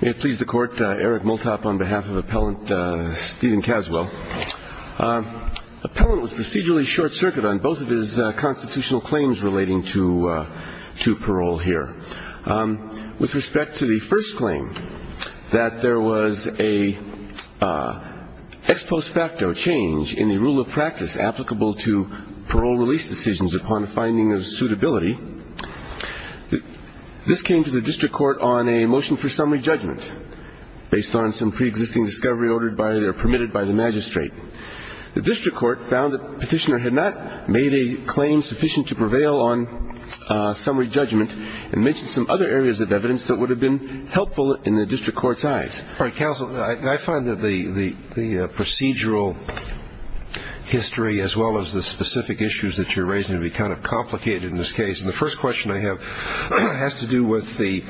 May it please the Court, Eric Multop on behalf of Appellant Steven Caswell. Appellant was procedurally short-circuited on both of his constitutional claims relating to parole here. With respect to the first claim, that there was an ex post facto change in the rule of practice applicable to parole release decisions upon finding of suitability, this came to the District Court on a motion for summary judgment based on some pre-existing discovery ordered by or permitted by the magistrate. The District Court found that Petitioner had not made a claim sufficient to prevail on summary judgment and mentioned some other areas of evidence that would have been helpful in the District Court's eyes. All right, Counsel, I find that the procedural history as well as the specific issues that you're raising seem to be kind of complicated in this case. And the first question I have has to do with the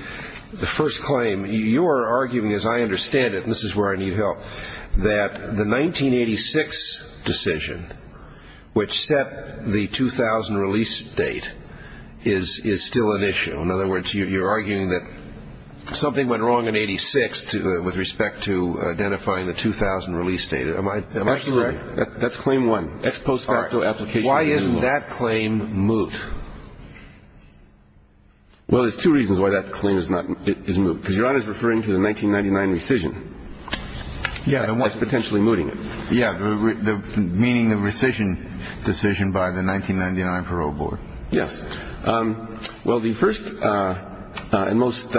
first claim. You're arguing, as I understand it, and this is where I need help, that the 1986 decision which set the 2000 release date is still an issue. In other words, you're arguing that something went wrong in 86 with respect to identifying the 2000 release date. Am I correct? Absolutely. That's claim one. Ex post facto application. Why isn't that claim moot? Well, there's two reasons why that claim is moot. Because Your Honor is referring to the 1999 rescission. Yeah. That's potentially mooting it. Yeah, meaning the rescission decision by the 1999 Parole Board. Yes. Well, the first and most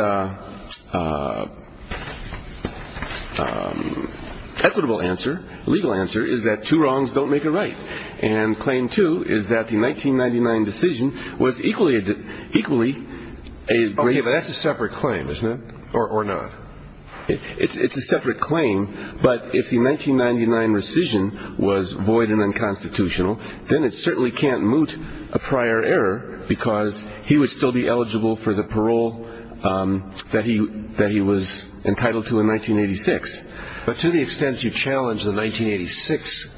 equitable answer, legal answer, is that two wrongs don't make a right. And claim two is that the 1999 decision was equally a great deal. Okay, but that's a separate claim, isn't it? Or not. It's a separate claim. But if the 1999 rescission was void and unconstitutional, then it certainly can't moot a prior error because he would still be eligible for the parole that he was entitled to in 1986. But to the extent you challenge the 1986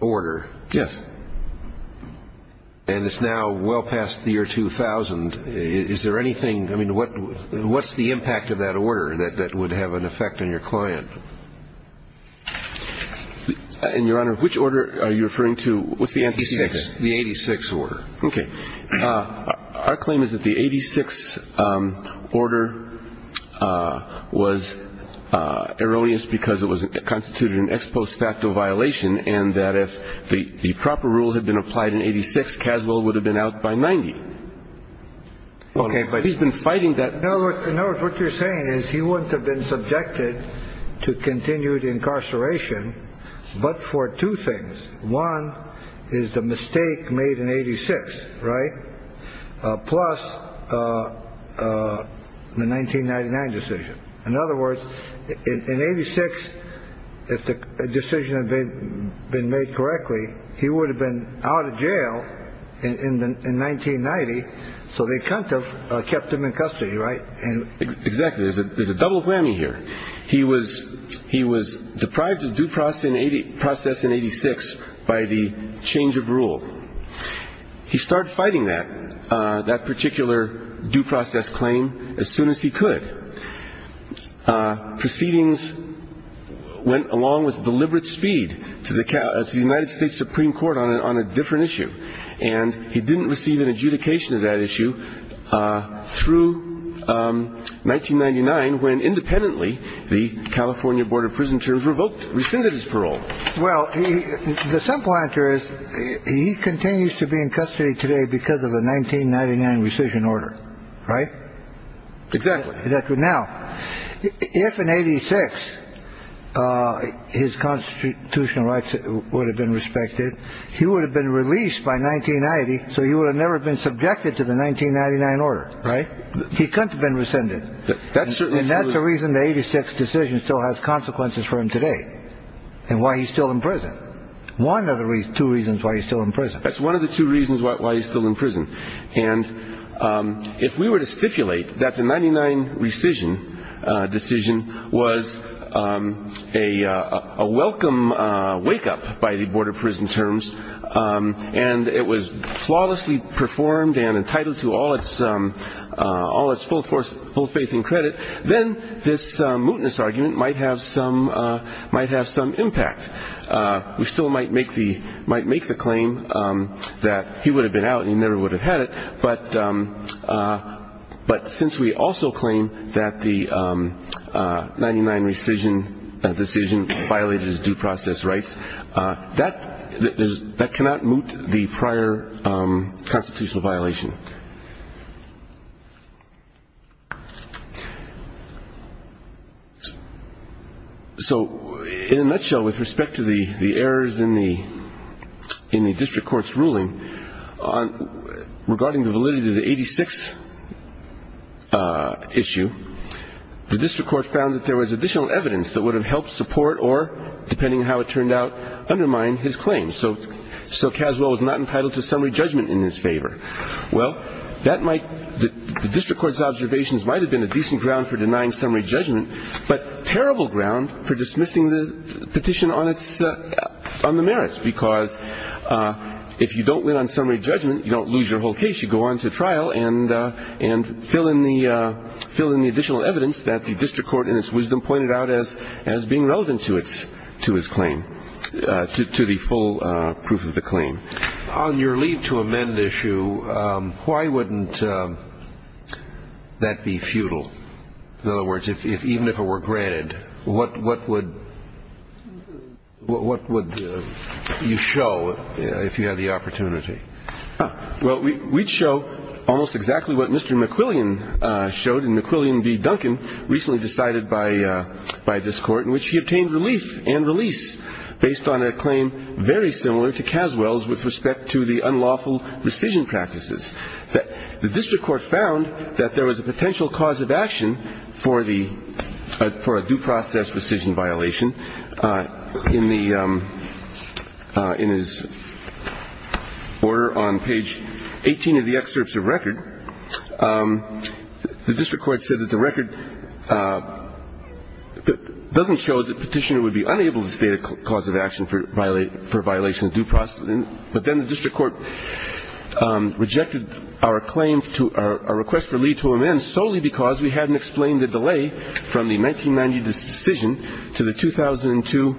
order. Yes. And it's now well past the year 2000. Is there anything, I mean, what's the impact of that order that would have an effect on your client? And, Your Honor, which order are you referring to with the 86? The 86 order. Okay. Our claim is that the 86 order was erroneous because it was constituted an ex post facto violation and that if the proper rule had been applied in 86, Caswell would have been out by 90. Okay. But he's been fighting that. In other words, what you're saying is he wouldn't have been subjected to continued incarceration, but for two things. One is the mistake made in 86. Right. Plus the 1999 decision. In other words, in 86, if the decision had been made correctly, he would have been out of jail in 1990. So they kind of kept him in custody. Right. And exactly. There's a double whammy here. He was he was deprived of due process in 86 by the change of rule. He started fighting that that particular due process claim as soon as he could. Proceedings went along with deliberate speed to the United States Supreme Court on a different issue. And he didn't receive an adjudication of that issue through 1999, when independently the California Board of Prisoners revoked rescinded his parole. Well, the simple answer is he continues to be in custody today because of the 1999 rescission order. Right. Exactly. Now, if in 86 his constitutional rights would have been respected, he would have been released by 1990. So you would have never been subjected to the 1999 order. Right. He could have been rescinded. That's certainly. And that's the reason the 86 decision still has consequences for him today and why he's still in prison. One of the two reasons why he's still in prison. That's one of the two reasons why he's still in prison. And if we were to stipulate that the 99 rescission decision was a welcome wake up by the board of prison terms and it was flawlessly performed and entitled to all its all its full force, full faith and credit. Then this mootness argument might have some might have some impact. We still might make the might make the claim that he would have been out. He never would have had it. But but since we also claim that the 99 rescission decision violated his due process rights, that is that cannot moot the prior constitutional violation. So in a nutshell, with respect to the errors in the in the district court's ruling regarding the validity of the 86 issue, the district court found that there was additional evidence that would have helped support or, depending on how it turned out, undermine his claim. So so Caswell was not entitled to summary judgment in his favor. Well, that might the district court's observations might have been a decent ground for denying summary judgment, but terrible ground for dismissing the petition on its on the merits, because if you don't win on summary judgment, you don't lose your whole case. You go on to trial and and fill in the fill in the additional evidence that the district court in its wisdom pointed out as as being relevant to its to his claim to the full proof of the claim on your lead to amend issue. Why wouldn't that be futile? In other words, if even if it were granted, what what would what would you show if you had the opportunity? Well, we'd show almost exactly what Mr. McQuillian showed in McQuillian v. Duncan recently decided by by this court in which he obtained relief and release based on a claim very similar to Caswell's with respect to the unlawful rescission practices. The district court found that there was a potential cause of action for the for a due process rescission violation. In the in his order on page 18 of the excerpts of record, the district court said that the record doesn't show that petitioner would be unable to state a cause of action for violate for violation of due process. But then the district court rejected our claim to our request for lead to amend solely because we hadn't explained the delay from the 1990 decision to the 2002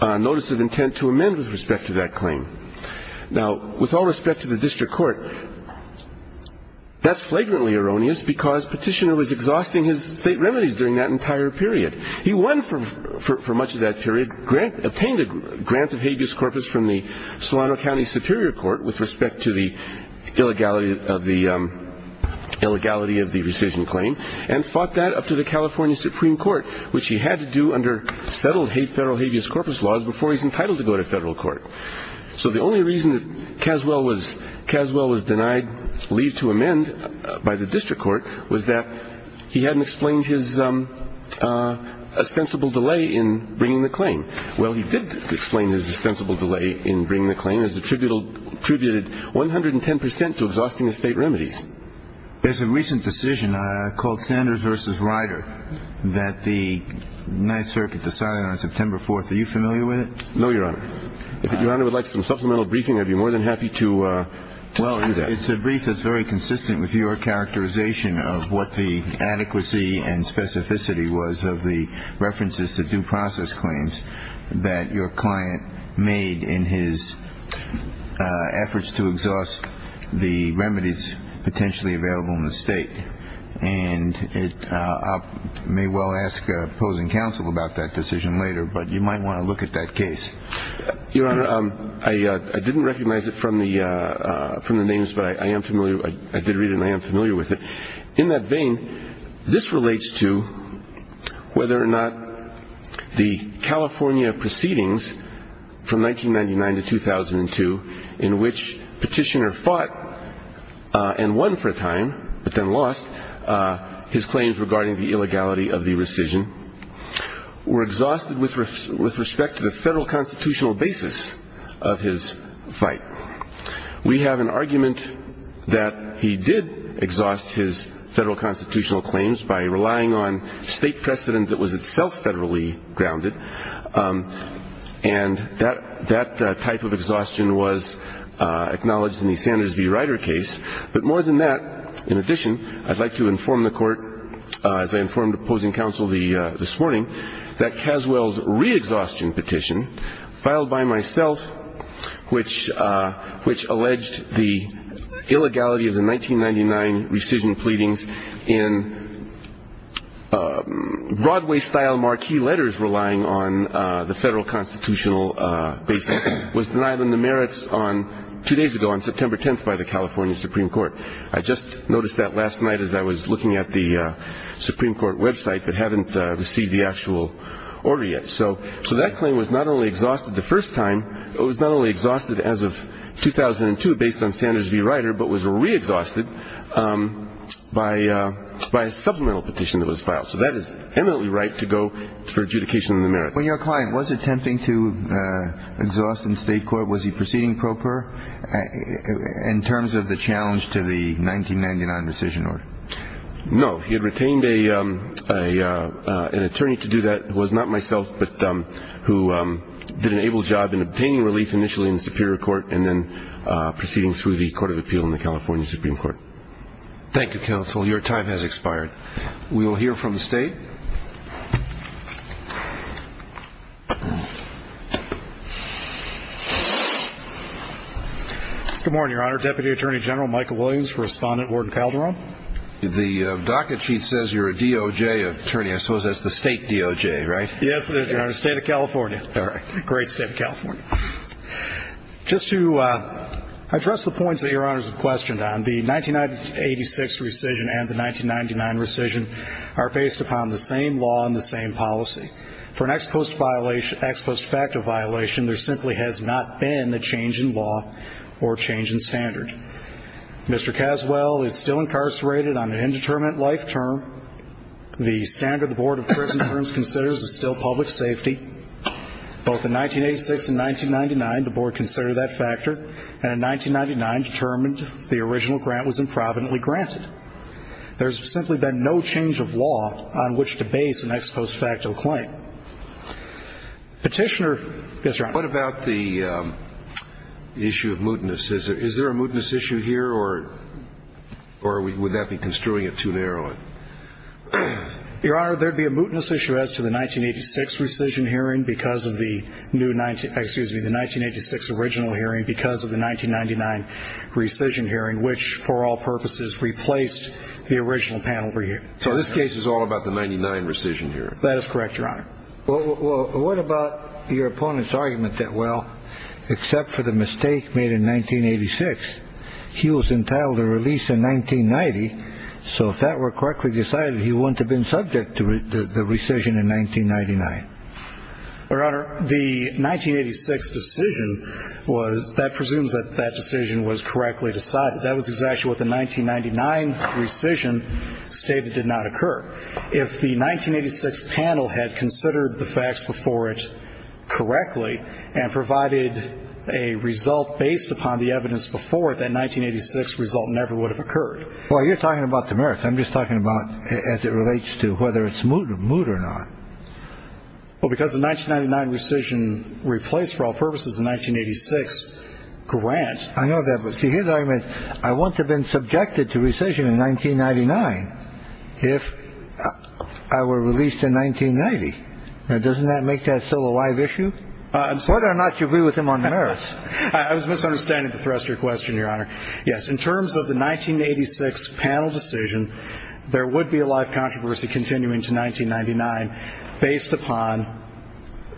notice of intent to amend with respect to that claim. Now, with all respect to the district court, that's flagrantly erroneous because petitioner was exhausting his state remedies during that entire period. He won for for much of that period grant obtained a grant of habeas corpus from the Solano County Superior Court with respect to the illegality of the illegality of the decision claim and fought that up to the California Supreme Court, which he had to do under settled hate federal habeas corpus laws before he's entitled to go to federal court. So the only reason that Caswell was Caswell was denied leave to amend by the district court was that he hadn't explained his ostensible delay in bringing the claim. Well, he did explain his ostensible delay in bringing the claim as the tribunal attributed 110 percent to exhausting the state remedies. There's a recent decision called Sanders versus Ryder that the Ninth Circuit decided on September 4th. Are you familiar with it? No, Your Honor. Your Honor would like some supplemental briefing. I'd be more than happy to. It's a brief that's very consistent with your characterization of what the adequacy and specificity was of the references to due process claims that your client made in his efforts to exhaust the remedies potentially available in the state. And it may well ask opposing counsel about that decision later, but you might want to look at that case. Your Honor, I didn't recognize it from the from the names, but I am familiar. I did read it and I am familiar with it. In that vein, this relates to whether or not the California proceedings from 1999 to 2002 in which petitioner fought and won for a time but then lost his claims regarding the illegality of the rescission were exhausted with with respect to the federal constitutional basis of his fight. We have an argument that he did exhaust his federal constitutional claims by relying on state precedent that was itself federally grounded and that that type of exhaustion was acknowledged in the Sanders v. Ryder case. But more than that, in addition, I'd like to inform the court, as I informed opposing counsel this morning, that Caswell's re-exhaustion petition filed by myself, which alleged the illegality of the 1999 rescission pleadings in Broadway-style marquee letters relying on the federal constitutional basis, was denied on the merits two days ago on September 10th by the California Supreme Court. I just noticed that last night as I was looking at the Supreme Court website but haven't received the actual order yet. So that claim was not only exhausted the first time, it was not only exhausted as of 2002 based on Sanders v. Ryder, but was re-exhausted by a supplemental petition that was filed. So that is eminently right to go for adjudication on the merits. When your client was attempting to exhaust in state court, was he proceeding pro per in terms of the challenge to the 1999 rescission order? No. He had retained an attorney to do that, who was not myself, but who did an able job in obtaining relief initially in the Superior Court and then proceeding through the Court of Appeal in the California Supreme Court. Thank you, counsel. Your time has expired. We will hear from the State. Good morning, Your Honor. Deputy Attorney General Michael Williams, Respondent Warden Calderon. The docket sheet says you're a DOJ attorney. I suppose that's the State DOJ, right? Yes, it is, Your Honor. State of California. All right. Great State of California. Just to address the points that Your Honors have questioned on, the 1986 rescission and the 1999 rescission are based upon the same law and the same policy. For an ex post facto violation, there simply has not been a change in law or change in standard. Mr. Caswell is still incarcerated on an indeterminate life term. The standard the Board of Prison Terms considers is still public safety. Both in 1986 and 1999, the Board considered that factor, and in 1999 determined the original grant was improvidently granted. There's simply been no change of law on which to base an ex post facto claim. Petitioner? Yes, Your Honor. What about the issue of mootness? Is there a mootness issue here, or would that be construing it too narrowly? Your Honor, there'd be a mootness issue as to the 1986 rescission hearing because of the new 19 – excuse me, the 1986 original hearing because of the 1999 rescission hearing, which for all purposes replaced the original panel review. So this case is all about the 1999 rescission hearing? That is correct, Your Honor. Well, what about your opponent's argument that, well, except for the mistake made in 1986, he was entitled to release in 1990? So if that were correctly decided, he wouldn't have been subject to the rescission in 1999? Your Honor, the 1986 decision was – that presumes that that decision was correctly decided. That was exactly what the 1999 rescission stated did not occur. If the 1986 panel had considered the facts before it correctly and provided a result based upon the evidence before it, that 1986 result never would have occurred. Well, you're talking about Damaris. I'm just talking about as it relates to whether it's moot or not. Well, because the 1999 rescission replaced, for all purposes, the 1986 grant. I know that, but see, his argument, I wouldn't have been subjected to rescission in 1999 if I were released in 1990. Now, doesn't that make that still a live issue? I'm sorry. Whether or not you agree with him on Damaris. I was misunderstanding the thruster question, Your Honor. Yes. In terms of the 1986 panel decision, there would be a live controversy continuing to 1999 based upon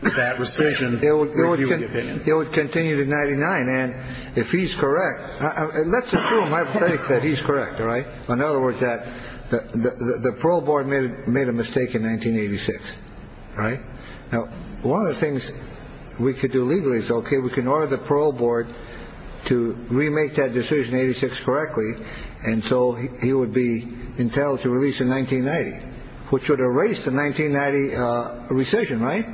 that rescission. It would continue to 99. And if he's correct, let's assume that he's correct. All right. In other words, that the parole board made made a mistake in 1986. All right. Now, one of the things we could do legally is OK. We can order the parole board to remake that decision 86 correctly. And so he would be entitled to release in 1990, which would erase the 1990 rescission. Right.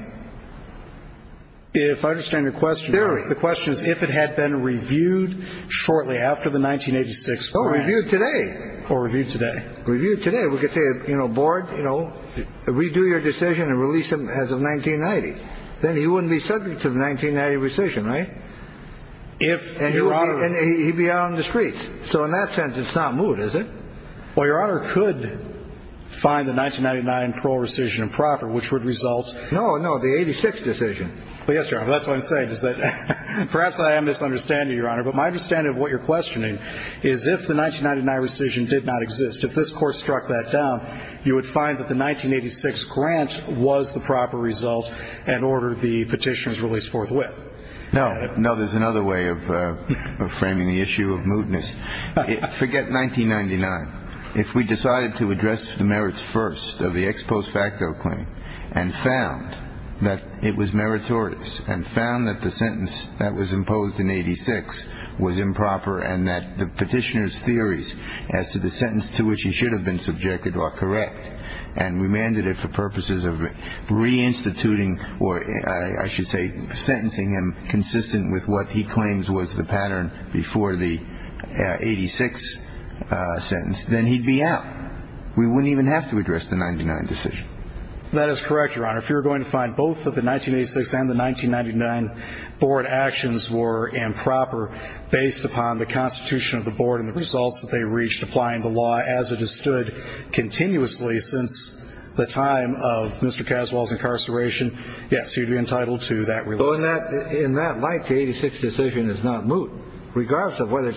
If I understand the question, the question is, if it had been reviewed shortly after the 1986 review today or reviewed today, reviewed today, we could say, you know, board, you know, redo your decision and release him as of 1990. Then he wouldn't be subject to the 1990 rescission. Right. If he'd be out on the streets. So in that sense, it's not moot, is it? Well, Your Honor, could find the 1999 parole rescission improper, which would result. No, no. The 86 decision. Yes, sir. That's what I'm saying is that perhaps I am misunderstanding, Your Honor. But my understanding of what you're questioning is if the 1999 rescission did not exist, if this court struck that down, you would find that the 1986 grant was the proper result and order the petitioners released forthwith. No, no. There's another way of framing the issue of mootness. Forget 1999. If we decided to address the merits first of the ex post facto claim and found that it was meritorious and found that the sentence that was imposed in 86 was improper and that the petitioners' theories as to the sentence to which he should have been subjected are correct and remanded it for purposes of reinstituting or I should say sentencing him consistent with what he claims was the pattern before the 86 sentence, then he'd be out. We wouldn't even have to address the 99 decision. That is correct, Your Honor. If you're going to find both of the 1986 and the 1999 board actions were improper based upon the constitution of the board and the results that they reached applying the law as it has stood continuously since the time of Mr. Caswell's incarceration. Yes, you'd be entitled to that. In that light, the 86 decision is not moot. Regardless of whether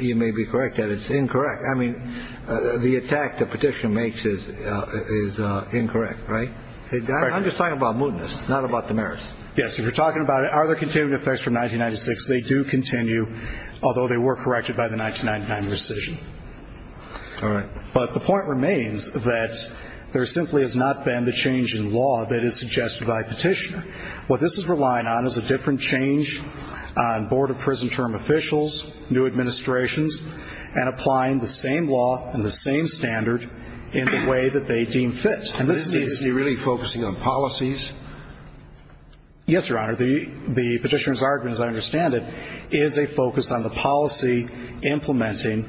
you may be correct that it's incorrect. I mean, the attack the petitioner makes is is incorrect. Right. I'm just talking about mootness, not about the merits. Yes. You're talking about it. Are there continuing effects from 1996? They do continue, although they were corrected by the 1999 decision. All right. But the point remains that there simply has not been the change in law that is suggested by petitioner. What this is relying on is a different change on board of prison term officials, new administrations, and applying the same law and the same standard in the way that they deem fit. And this is really focusing on policies. Yes, Your Honor. The petitioner's argument, as I understand it, is a focus on the policy implementing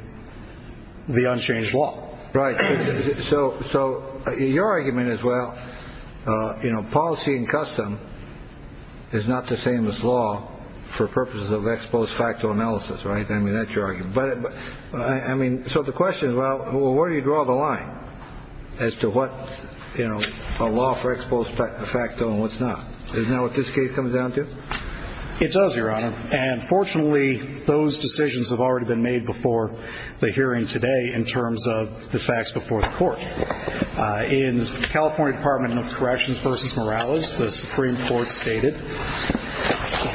the unchanged law. Right. So. So your argument is, well, you know, policy and custom is not the same as law for purposes of ex post facto analysis. Right. I mean, that's your argument. But I mean. So the question is, well, where do you draw the line as to what, you know, a law for ex post facto and what's not. Isn't that what this case comes down to? It does, Your Honor. And fortunately, those decisions have already been made before the hearing today in terms of the facts before the court. In the California Department of Corrections versus Morales, the Supreme Court stated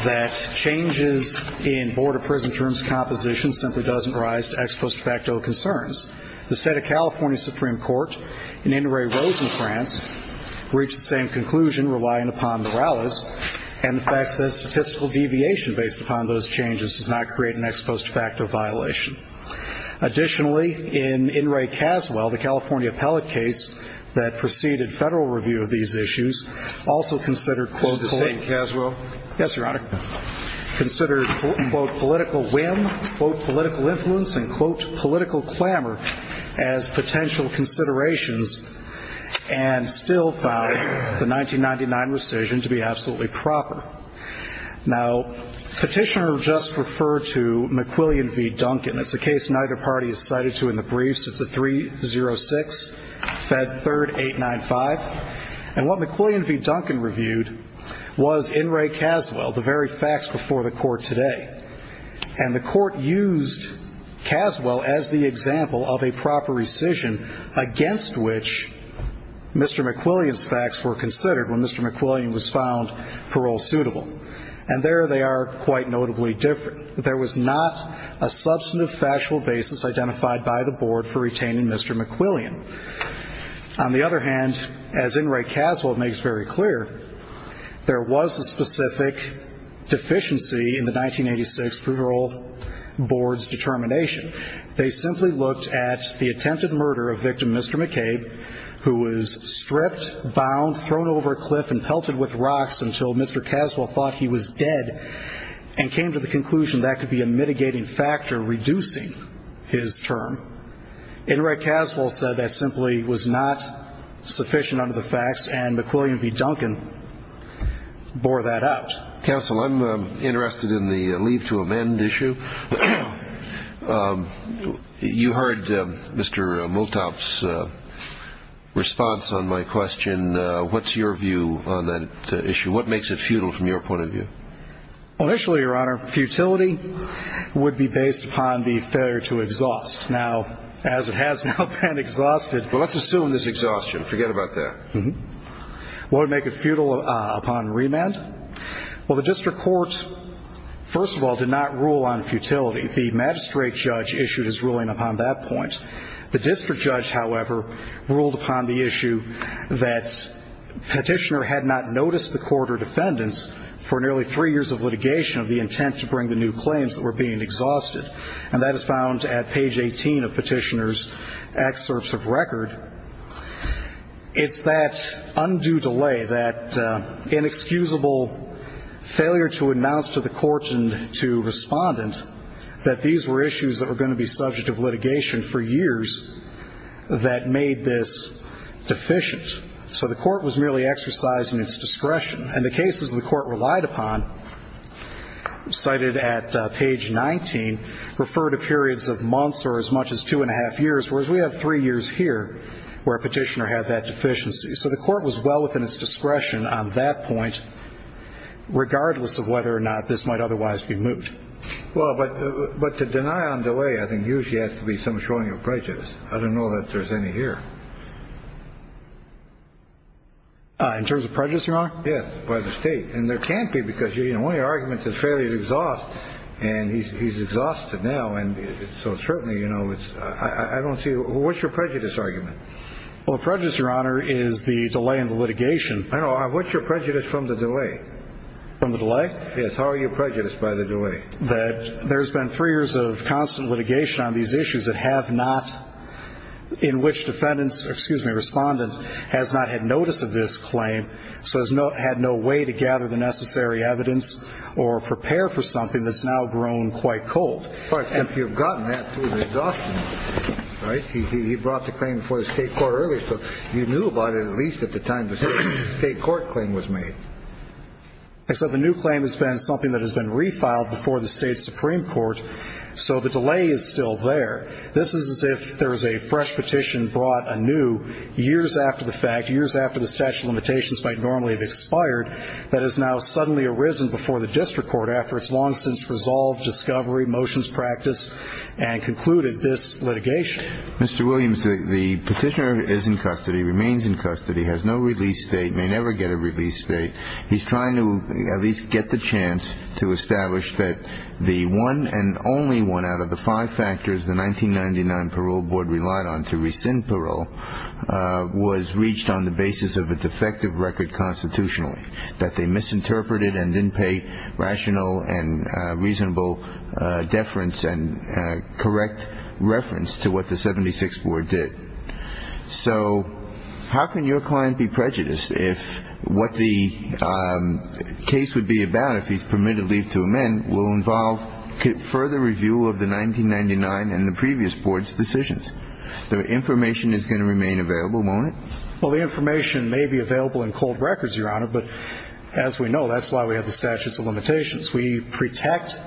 that changes in board of prison terms composition simply doesn't rise to ex post facto concerns. The state of California Supreme Court in Inouye Rose in France reached the same conclusion relying upon Morales. And the fact says statistical deviation based upon those changes does not create an ex post facto violation. Additionally, in Inouye Caswell, the California appellate case that preceded federal review of these issues also considered. The same Caswell. Yes, Your Honor. Considered, quote, political whim, quote, political influence and quote, political clamor as potential considerations. And still found the 1999 rescission to be absolutely proper. Now, Petitioner just referred to McQuillian v. Duncan. It's a case neither party is cited to in the briefs. It's a 306 Fed Third 895. And what McQuillian v. Duncan reviewed was Inouye Caswell, the very facts before the court today. And the court used Caswell as the example of a proper rescission against which Mr. McQuillian's facts were considered when Mr. McQuillian was found parole suitable. And there they are quite notably different. There was not a substantive factual basis identified by the board for retaining Mr. McQuillian. On the other hand, as Inouye Caswell makes very clear, there was a specific deficiency in the 1986 parole board's determination. They simply looked at the attempted murder of victim Mr. McCabe, who was stripped, bound, thrown over a cliff and pelted with rocks until Mr. Caswell thought he was dead. And came to the conclusion that could be a mitigating factor reducing his term. Inouye Caswell said that simply was not sufficient under the facts, and McQuillian v. Duncan bore that out. Counsel, I'm interested in the leave to amend issue. You heard Mr. Multop's response on my question. What's your view on that issue? What makes it futile from your point of view? Initially, Your Honor, futility would be based upon the failure to exhaust. Now, as it has now been exhausted. Well, let's assume there's exhaustion. Forget about that. What would make it futile upon remand? Well, the district court, first of all, did not rule on futility. The magistrate judge issued his ruling upon that point. The district judge, however, ruled upon the issue that petitioner had not noticed the court or defendants for nearly three years of litigation of the intent to bring the new claims that were being exhausted. And that is found at page 18 of petitioner's excerpts of record. It's that undue delay, that inexcusable failure to announce to the court and to respondent that these were issues that were going to be subject of litigation for years that made this deficient. So the court was merely exercising its discretion. And the cases the court relied upon, cited at page 19, refer to periods of months or as much as two and a half years, whereas we have three years here where a petitioner had that deficiency. So the court was well within its discretion on that point, regardless of whether or not this might otherwise be moved. Well, but to deny on delay, I think, usually has to be some showing of prejudice. I don't know that there's any here. In terms of prejudice, Your Honor? Yes, by the state. And there can't be, because, you know, one of your arguments is failure to exhaust. And he's exhausted now. And so certainly, you know, it's – I don't see – what's your prejudice argument? Well, the prejudice, Your Honor, is the delay in the litigation. I know. What's your prejudice from the delay? From the delay? Yes. How are you prejudiced by the delay? That there's been three years of constant litigation on these issues that have not – in which defendants – excuse me, respondent has not had notice of this claim. So has no – had no way to gather the necessary evidence or prepare for something that's now grown quite cold. But you've gotten that through the exhaustion, right? He brought the claim before the state court earlier. So you knew about it at least at the time the state court claim was made. Except the new claim has been something that has been refiled before the state supreme court. So the delay is still there. This is as if there is a fresh petition brought anew years after the fact, years after the statute of limitations might normally have expired, that has now suddenly arisen before the district court after its long-since resolved discovery, motions practiced, and concluded this litigation. Mr. Williams, the petitioner is in custody, remains in custody, has no release date, may never get a release date. He's trying to at least get the chance to establish that the one and only one out of the five factors the 1999 parole board relied on to rescind parole was reached on the basis of a defective record constitutionally. That they misinterpreted and didn't pay rational and reasonable deference and correct reference to what the 76th board did. So how can your client be prejudiced if what the case would be about, if he's permitted leave to amend, will involve further review of the 1999 and the previous board's decisions? The information is going to remain available, won't it? Well, the information may be available in cold records, Your Honor, but as we know, that's why we have the statute of limitations. We protect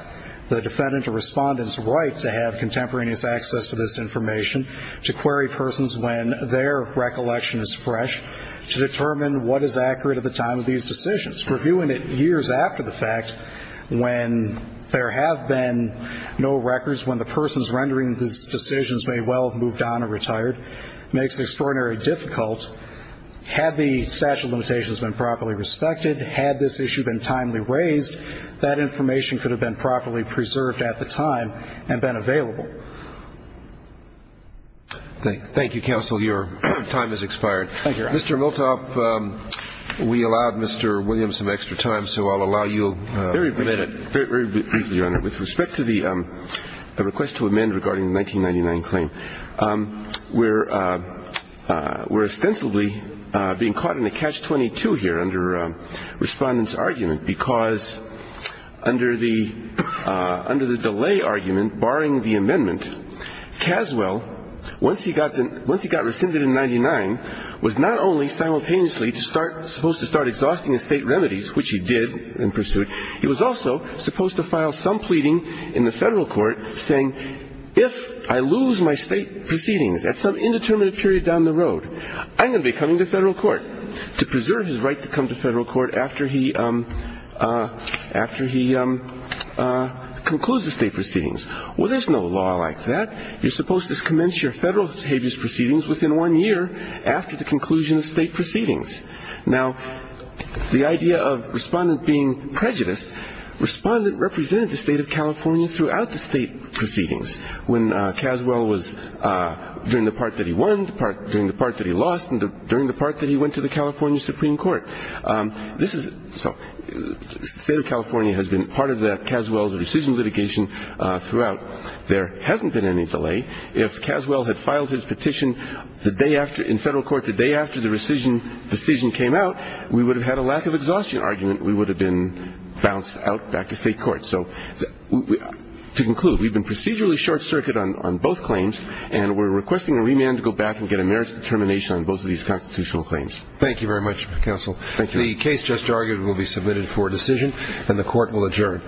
the defendant or respondent's right to have contemporaneous access to this information, to query persons when their recollection is fresh, to determine what is accurate at the time of these decisions. Reviewing it years after the fact, when there have been no records, when the persons rendering these decisions may well have moved on or retired, makes it extraordinarily difficult. Had the statute of limitations been properly respected, had this issue been timely raised, that information could have been properly preserved at the time and been available. Thank you, counsel. Your time has expired. Thank you, Your Honor. Mr. Miltoff, we allowed Mr. Williams some extra time, so I'll allow you a minute. Very briefly, Your Honor. With respect to the request to amend regarding the 1999 claim, we're ostensibly being caught in a catch-22 here under Respondent's argument because under the delay argument barring the amendment, Caswell, once he got rescinded in 1999, was not only simultaneously supposed to start exhausting his state remedies, which he did in pursuit, he was also supposed to file some pleading in the federal court saying, if I lose my state proceedings at some indeterminate period down the road, I'm going to be coming to federal court to preserve his right to come to federal court after he concludes the state proceedings. Well, there's no law like that. You're supposed to commence your federal habeas proceedings within one year after the conclusion of state proceedings. Now, the idea of Respondent being prejudiced, Respondent represented the state of California throughout the state proceedings. When Caswell was, during the part that he won, during the part that he lost, and during the part that he went to the California Supreme Court. The state of California has been part of Caswell's rescission litigation throughout. There hasn't been any delay. If Caswell had filed his petition in federal court the day after the rescission decision came out, we would have had a lack of exhaustion argument. We would have been bounced out back to state court. So to conclude, we've been procedurally short-circuited on both claims, and we're requesting a remand to go back and get a merits determination on both of these constitutional claims. Thank you very much, counsel. Thank you. The case just argued will be submitted for decision, and the court will adjourn.